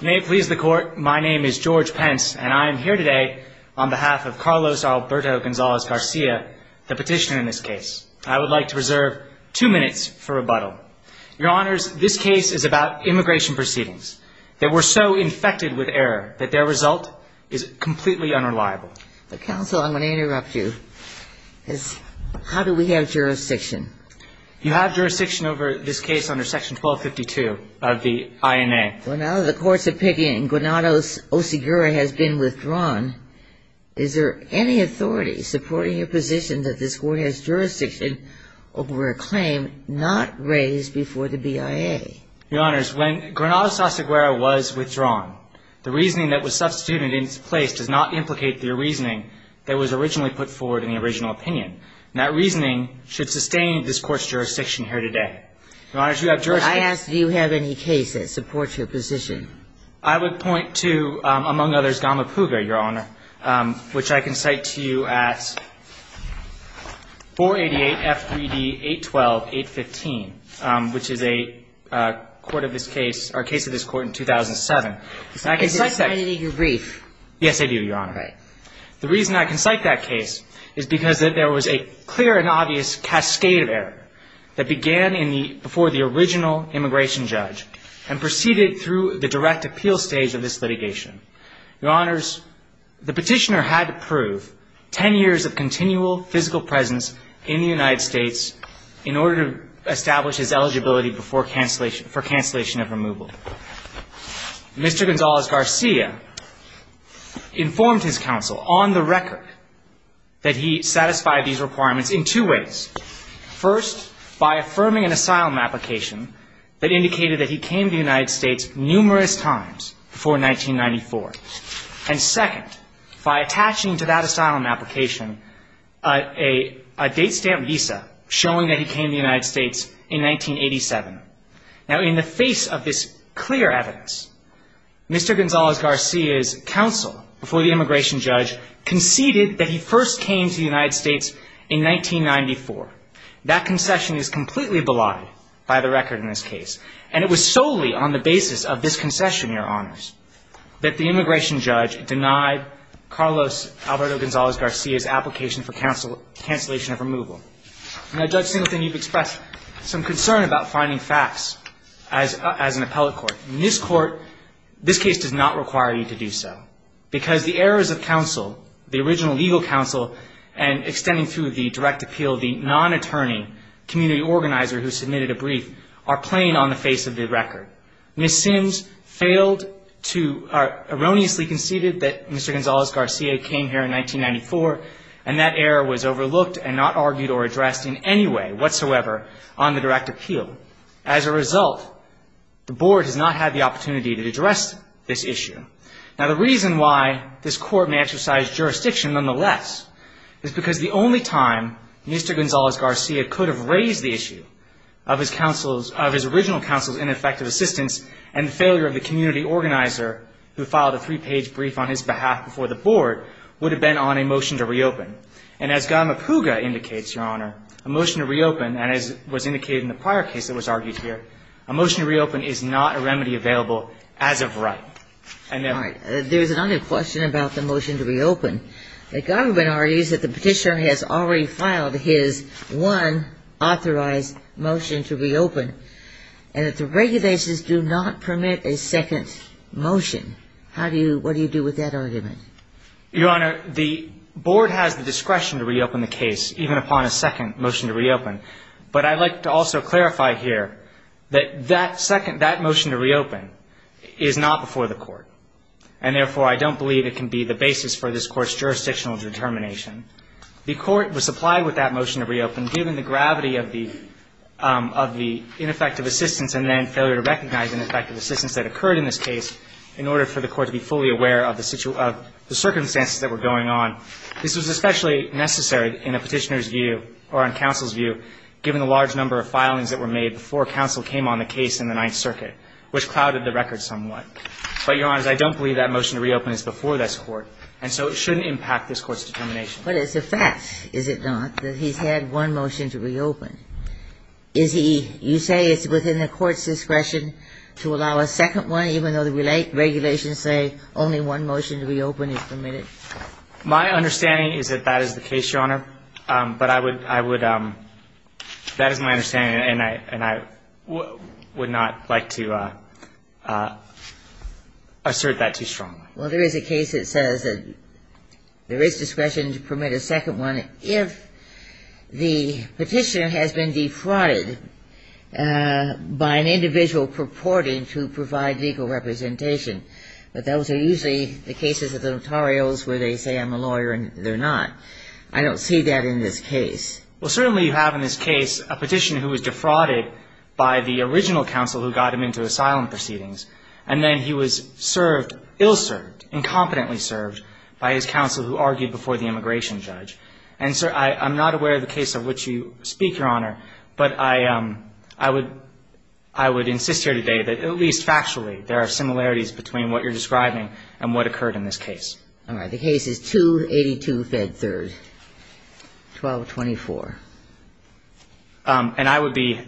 May it please the court, my name is George Pence, and I am here today on behalf of Carlos Alberto Gonzalez Garcia, the petitioner in this case. I would like to reserve two minutes for rebuttal. Your Honors, this case is about immigration proceedings. They were so infected with error that their result is completely unreliable. Counsel, I'm going to interrupt you. How do we have jurisdiction? You have jurisdiction over this case under Section 1252 of the INA. Well, now that the courts have picked it and Granados Oseguera has been withdrawn, is there any authority supporting your position that this court has jurisdiction over a claim not raised before the BIA? Your Honors, when Granados Oseguera was withdrawn, the reasoning that was substituted in its place does not implicate the reasoning that was originally put forward in the original opinion. That reasoning should sustain this court's jurisdiction here today. Your Honors, you have jurisdiction. Counsel, I ask, do you have any case that supports your position? I would point to, among others, Gama Puga, Your Honor, which I can cite to you at 488 F3D 812-815, which is a court of this case or a case of this court in 2007. And I can cite that. Is it cited in your brief? Yes, I do, Your Honor. All right. The reason I can cite that case is because there was a clear and obvious cascade of error that began before the original immigration judge and proceeded through the direct appeal stage of this litigation. Your Honors, the petitioner had to prove 10 years of continual physical presence in the United States in order to establish his eligibility for cancellation of removal. Mr. Gonzalez-Garcia informed his counsel on the record that he satisfied these requirements in two ways. First, by affirming an asylum application that indicated that he came to the United States numerous times before 1994. And second, by attaching to that asylum application a date stamp visa showing that he came to the United States in 1987. Now, in the face of this clear evidence, Mr. Gonzalez-Garcia's counsel before the immigration judge conceded that he first came to the United States in 1994. That concession is completely belied by the record in this case. And it was solely on the basis of this concession, Your Honors, that the immigration judge denied Carlos Alberto Gonzalez-Garcia's application for cancellation of removal. Now, Judge Singleton, you've expressed some concern about finding facts as an appellate court. In this court, this case does not require you to do so because the errors of counsel, the original legal counsel and extending through the direct appeal, the non-attorney community organizer who submitted a brief are plain on the face of the record. Ms. Sims failed to or erroneously conceded that Mr. Gonzalez-Garcia came here in 1994 and that error was overlooked and not argued or addressed in any way whatsoever on the direct appeal. As a result, the Board has not had the opportunity to address this issue. Now, the reason why this court may exercise jurisdiction, nonetheless, is because the only time Mr. Gonzalez-Garcia could have raised the issue of his counsel's, of his original counsel's ineffective assistance and the failure of the community organizer who filed a three-page brief on his behalf before the Board would have been on a motion to reopen. And as Godma Puga indicates, Your Honor, a motion to reopen, and as was indicated in the prior case that was argued here, a motion to reopen is not a remedy available as of right. All right. There's another question about the motion to reopen. The government argues that the petitioner has already filed his one authorized motion to reopen and that the regulations do not permit a second motion. What do you do with that argument? Your Honor, the Board has the discretion to reopen the case, even upon a second motion to reopen. But I'd like to also clarify here that that motion to reopen is not before the Court, and therefore, I don't believe it can be the basis for this Court's jurisdictional determination. The Court was supplied with that motion to reopen given the gravity of the ineffective assistance and then failure to recognize ineffective assistance that occurred in this case in order for the Court to be fully aware of the circumstances that were going on. This was especially necessary in a petitioner's view or in counsel's view, given the large number of filings that were made before counsel came on the case in the Ninth Circuit, which clouded the record somewhat. But, Your Honor, I don't believe that motion to reopen is before this Court, and so it shouldn't impact this Court's determination. But it's a fact, is it not, that he's had one motion to reopen. Is he – you say it's within the Court's discretion to allow a second one, even though the regulations say only one motion to reopen is permitted. My understanding is that that is the case, Your Honor. But I would – that is my understanding, and I would not like to assert that too strongly. Well, there is a case that says that there is discretion to permit a second one if the petitioner has been defrauded by an individual purporting to provide legal representation. But those are usually the cases of the notarios where they say I'm a lawyer and they're not. I don't see that in this case. Well, certainly you have in this case a petitioner who was defrauded by the original counsel who got him into asylum proceedings, and then he was served – ill-served, incompetently served by his counsel who argued before the immigration judge. And so I'm not aware of the case of which you speak, Your Honor, but I would – I would insist here today that at least factually there are similarities between what you're describing and what occurred in this case. All right. The case is 282 Fed 3rd, 1224. And I would be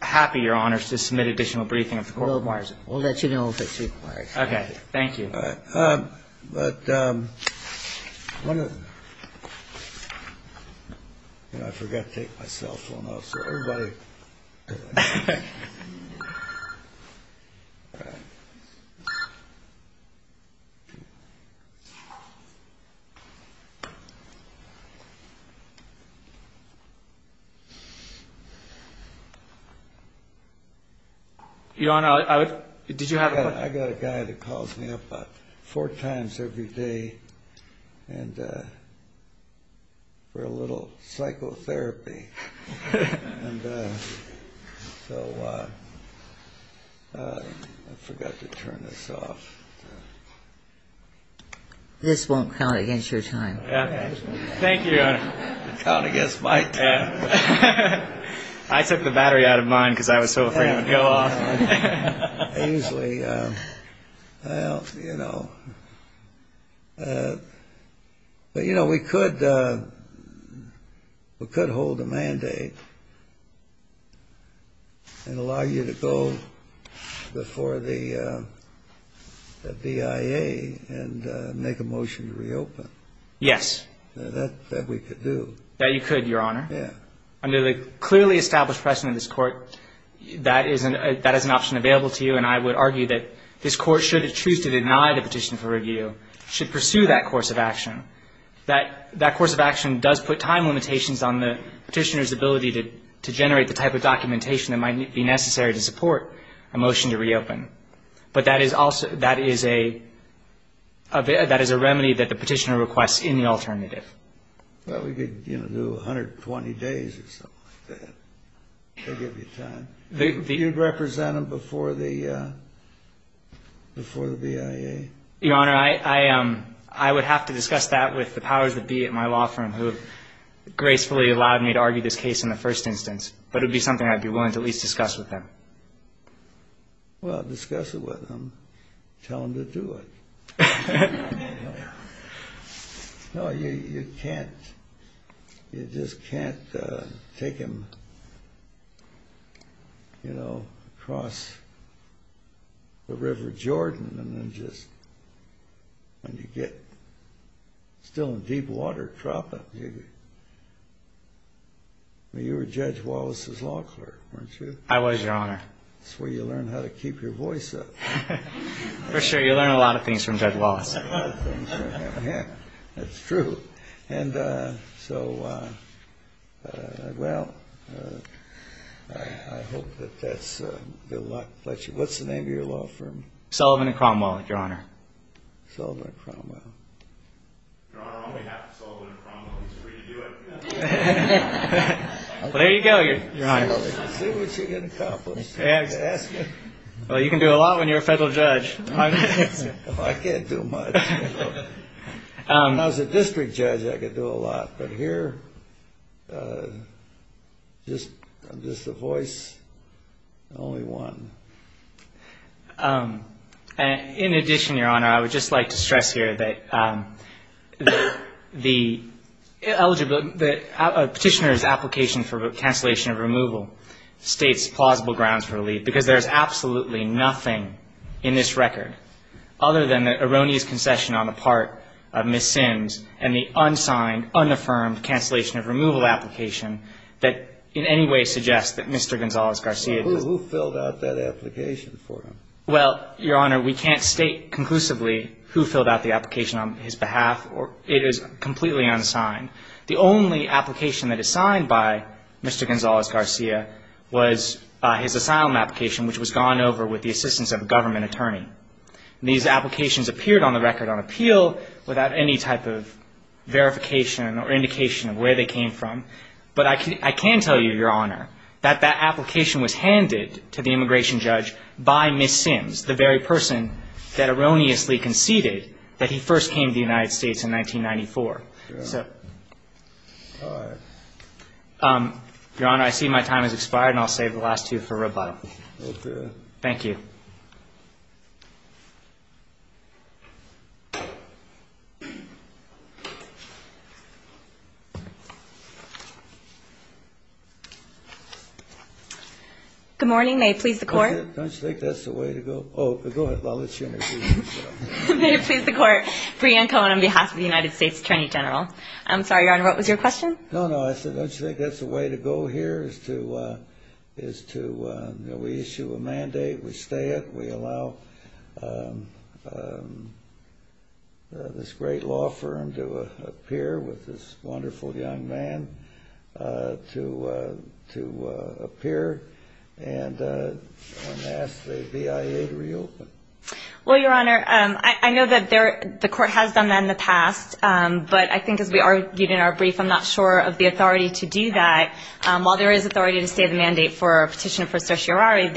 happy, Your Honor, to submit additional briefing of the court. We'll let you know if it's required. Okay. Thank you. All right. But one of the – you know, I forgot to take my cell phone out, so everybody – Your Honor, I would – did you have a question? I got a guy that calls me up about four times every day and – for a little psychotherapy. And so I forgot to turn this off. This won't count against your time. Thank you, Your Honor. It'll count against my time. I took the battery out of mine because I was so afraid it would go off. Ainsley, well, you know. But, you know, we could hold a mandate and allow you to go before the BIA and make a motion to reopen. Yes. That we could do. That you could, Your Honor. Yeah. Under the clearly established precedent of this court, that is an option available to you. And I would argue that this court, should it choose to deny the petition for review, should pursue that course of action. That course of action does put time limitations on the petitioner's ability to generate the type of documentation that might be necessary to support a motion to reopen. But that is also – that is a remedy that the petitioner requests in the alternative. Well, we could, you know, do 120 days or something like that. They'll give you time. You'd represent them before the BIA? Your Honor, I would have to discuss that with the powers that be at my law firm, who have gracefully allowed me to argue this case in the first instance. But it would be something I'd be willing to at least discuss with them. Well, discuss it with them. Tell them to do it. No, you can't. You just can't take him, you know, across the River Jordan and then just – when you get still in deep water, drop him. I mean, you were Judge Wallace's law clerk, weren't you? I was, Your Honor. That's where you learn how to keep your voice up. For sure, you learn a lot of things from Judge Wallace. That's true. And so, well, I hope that that's good luck. What's the name of your law firm? Sullivan and Cromwell, Your Honor. Sullivan and Cromwell. Your Honor, all we have is Sullivan and Cromwell. It's free to do it. Well, there you go, Your Honor. Let's see what you can accomplish. Well, you can do a lot when you're a federal judge. I can't do much. When I was a district judge, I could do a lot. But here, I'm just a voice, only one. In addition, Your Honor, I would just like to stress here that the petitioner's application for cancellation of removal states plausible grounds for relief, because there's absolutely nothing in this record other than the erroneous concession on the part of Ms. Sims and the unsigned, unaffirmed cancellation of removal application that in any way suggests that Mr. Gonzales-Garcia did not. Who filled out that application for him? Well, Your Honor, we can't state conclusively who filled out the application on his behalf. It is completely unsigned. The only application that is signed by Mr. Gonzales-Garcia was his asylum application, which was gone over with the assistance of a government attorney. These applications appeared on the record on appeal without any type of verification or indication of where they came from. But I can tell you, Your Honor, that that application was handed to the immigration judge by Ms. Sims, the very person that erroneously conceded that he first came to the United States in 1994. All right. Your Honor, I see my time has expired, and I'll save the last two for rebuttal. Okay. Thank you. Good morning. May it please the Court? Don't you think that's the way to go? Oh, go ahead. I'll let you interview yourself. May it please the Court? Brianne Cohen on behalf of the United States Attorney General. I'm sorry, Your Honor, what was your question? No, no. I said, don't you think that's the way to go here, is to issue a mandate, we stay it, we allow this great law firm to appear with this wonderful young man to appear, and ask the BIA to reopen. Well, Your Honor, I know that the Court has done that in the past, but I think as we argued in our brief, I'm not sure of the authority to do that. While there is authority to stay the mandate for a petitioner for certiorari,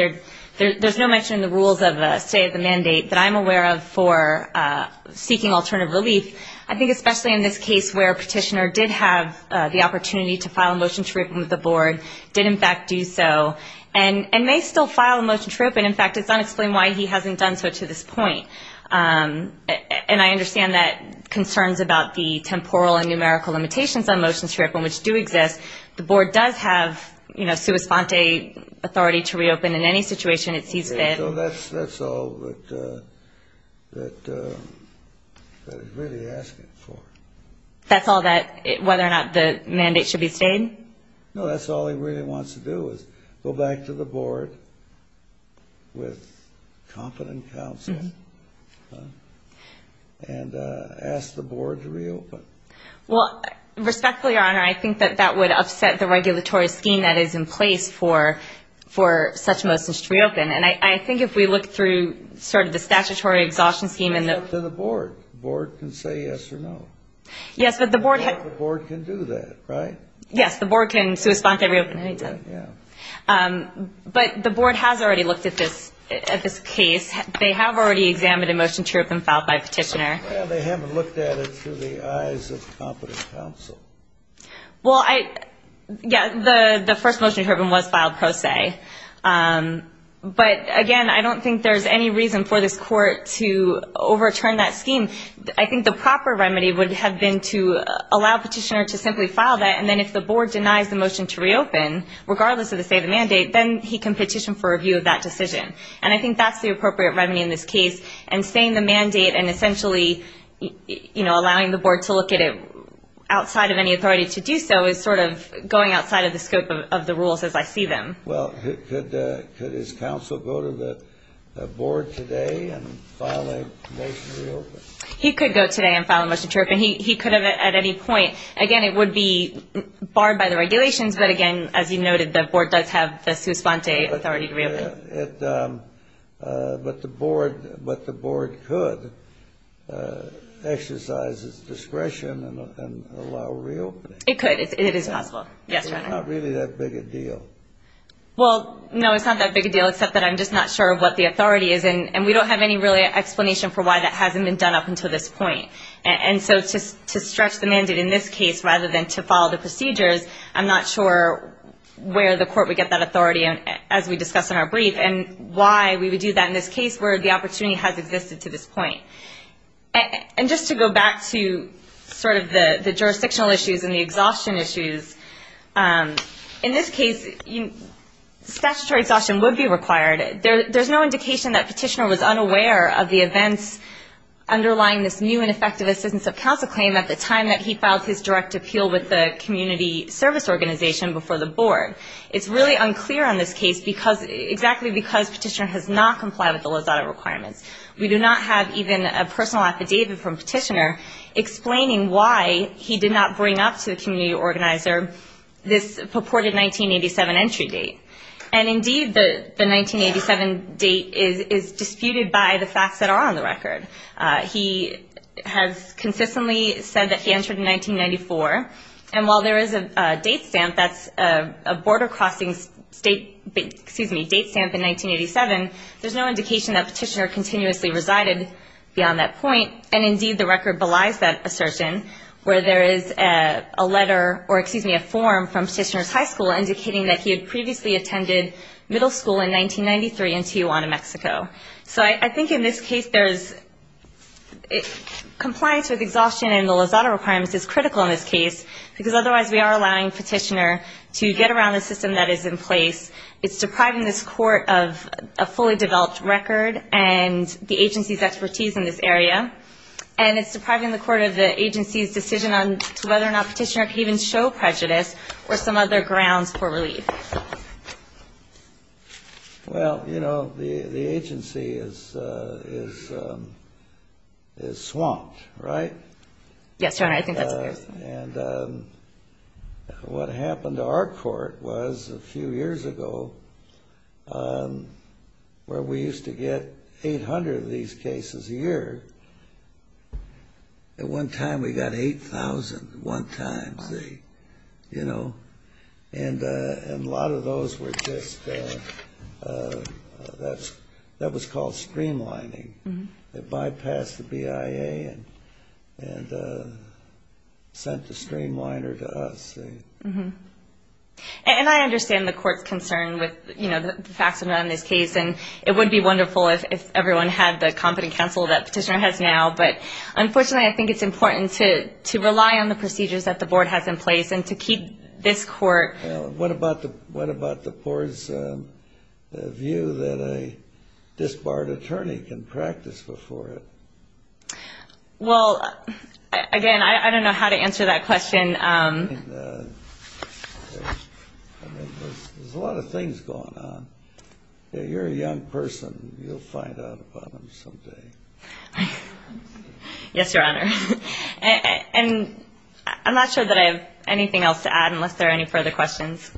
there's no mention in the rules of a stay of the mandate that I'm aware of for seeking alternative relief. I think especially in this case where a petitioner did have the opportunity to file a motion to reopen with the Board, did in fact do so, and may still file a motion to reopen. In fact, it's unexplained why he hasn't done so to this point. And I understand that concerns about the temporal and numerical limitations on motions to reopen, which do exist, the Board does have, you know, sua sponte authority to reopen in any situation it sees fit. Yeah, so that's all that it's really asking for. That's all that, whether or not the mandate should be stayed? No, that's all he really wants to do is go back to the Board with competent counsel and ask the Board to reopen. Well, respectfully, Your Honor, I think that that would upset the regulatory scheme that is in place for such motions to reopen. And I think if we look through sort of the statutory exhaustion scheme and the – It's up to the Board. The Board can say yes or no. Yes, but the Board – The Board can do that, right? Yes, the Board can sua sponte reopen anytime. Right, yeah. But the Board has already looked at this case. They have already examined a motion to reopen filed by a petitioner. Well, they haven't looked at it through the eyes of competent counsel. Well, I – yeah, the first motion to reopen was filed pro se. But, again, I don't think there's any reason for this Court to overturn that scheme. I mean, I think the proper remedy would have been to allow a petitioner to simply file that, and then if the Board denies the motion to reopen, regardless of the state of the mandate, then he can petition for review of that decision. And I think that's the appropriate remedy in this case. And staying the mandate and essentially, you know, allowing the Board to look at it outside of any authority to do so is sort of going outside of the scope of the rules as I see them. Well, could his counsel go to the Board today and file a motion to reopen? He could go today and file a motion to reopen. He could have at any point. Again, it would be barred by the regulations. But, again, as you noted, the Board does have the sua sponte authority to reopen. But the Board could exercise its discretion and allow reopening. It could. It is possible. Yes, Your Honor. It's not really that big a deal. Well, no, it's not that big a deal, except that I'm just not sure what the authority is. And we don't have any really explanation for why that hasn't been done up until this point. And so to stretch the mandate in this case rather than to follow the procedures, I'm not sure where the court would get that authority, as we discussed in our brief, and why we would do that in this case where the opportunity has existed to this point. And just to go back to sort of the jurisdictional issues and the exhaustion issues, in this case statutory exhaustion would be required. There's no indication that Petitioner was unaware of the events underlying this new and effective assistance of counsel claim at the time that he filed his direct appeal with the community service organization before the Board. It's really unclear on this case, exactly because Petitioner has not complied with the Lozada requirements. We do not have even a personal affidavit from Petitioner explaining why he did not bring up to the community organizer this purported 1987 entry date. And, indeed, the 1987 date is disputed by the facts that are on the record. He has consistently said that he entered in 1994. And while there is a date stamp that's a border crossing date stamp in 1987, there's no indication that Petitioner continuously resided beyond that point. And, indeed, the record belies that assertion where there is a letter or, excuse me, a form from Petitioner's high school indicating that he had previously attended middle school in 1993 in Tijuana, Mexico. So I think in this case compliance with exhaustion and the Lozada requirements is critical in this case, because otherwise we are allowing Petitioner to get around the system that is in place. It's depriving this court of a fully developed record and the agency's expertise in this area, and it's depriving the court of the agency's decision on whether or not Petitioner can even show prejudice or some other grounds for relief. Well, you know, the agency is swamped, right? Yes, Your Honor. I think that's fair. And what happened to our court was a few years ago where we used to get 800 of these cases a year. At one time we got 8,000 at one time, you know. And a lot of those were just that was called streamlining. It bypassed the BIA and sent the streamliner to us. And I understand the court's concern with, you know, the facts around this case, and it would be wonderful if everyone had the competent counsel that Petitioner has now, but unfortunately I think it's important to rely on the procedures that the board has in place and to keep this court. What about the board's view that a disbarred attorney can practice before it? Well, again, I don't know how to answer that question. There's a lot of things going on. You're a young person. You'll find out about them someday. Yes, Your Honor. And I'm not sure that I have anything else to add unless there are any further questions.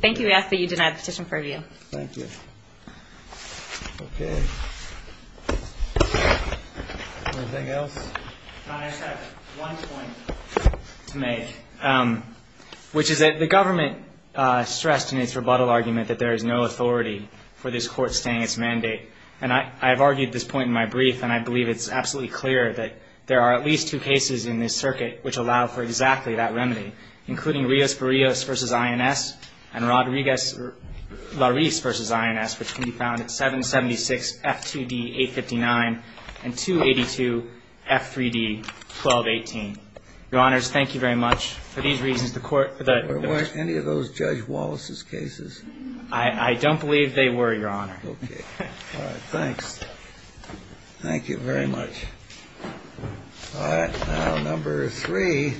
Thank you. We ask that you deny the petition for review. Thank you. Okay. Anything else? Your Honor, I just have one point to make, which is that the government stressed in its rebuttal argument that there is no authority for this court staying its mandate. And I've argued this point in my brief, and I believe it's absolutely clear that there are at least two cases in this circuit which allow for exactly that remedy, including Rios-Parrios v. INS and Rodriguez-Larisse v. INS, which can be found at 776-F2D-859 and 282-F3D-1218. Your Honors, thank you very much. For these reasons, the court that was ---- Were any of those Judge Wallace's cases? I don't believe they were, Your Honor. All right. Thanks. Thank you very much. All right. Now, number three.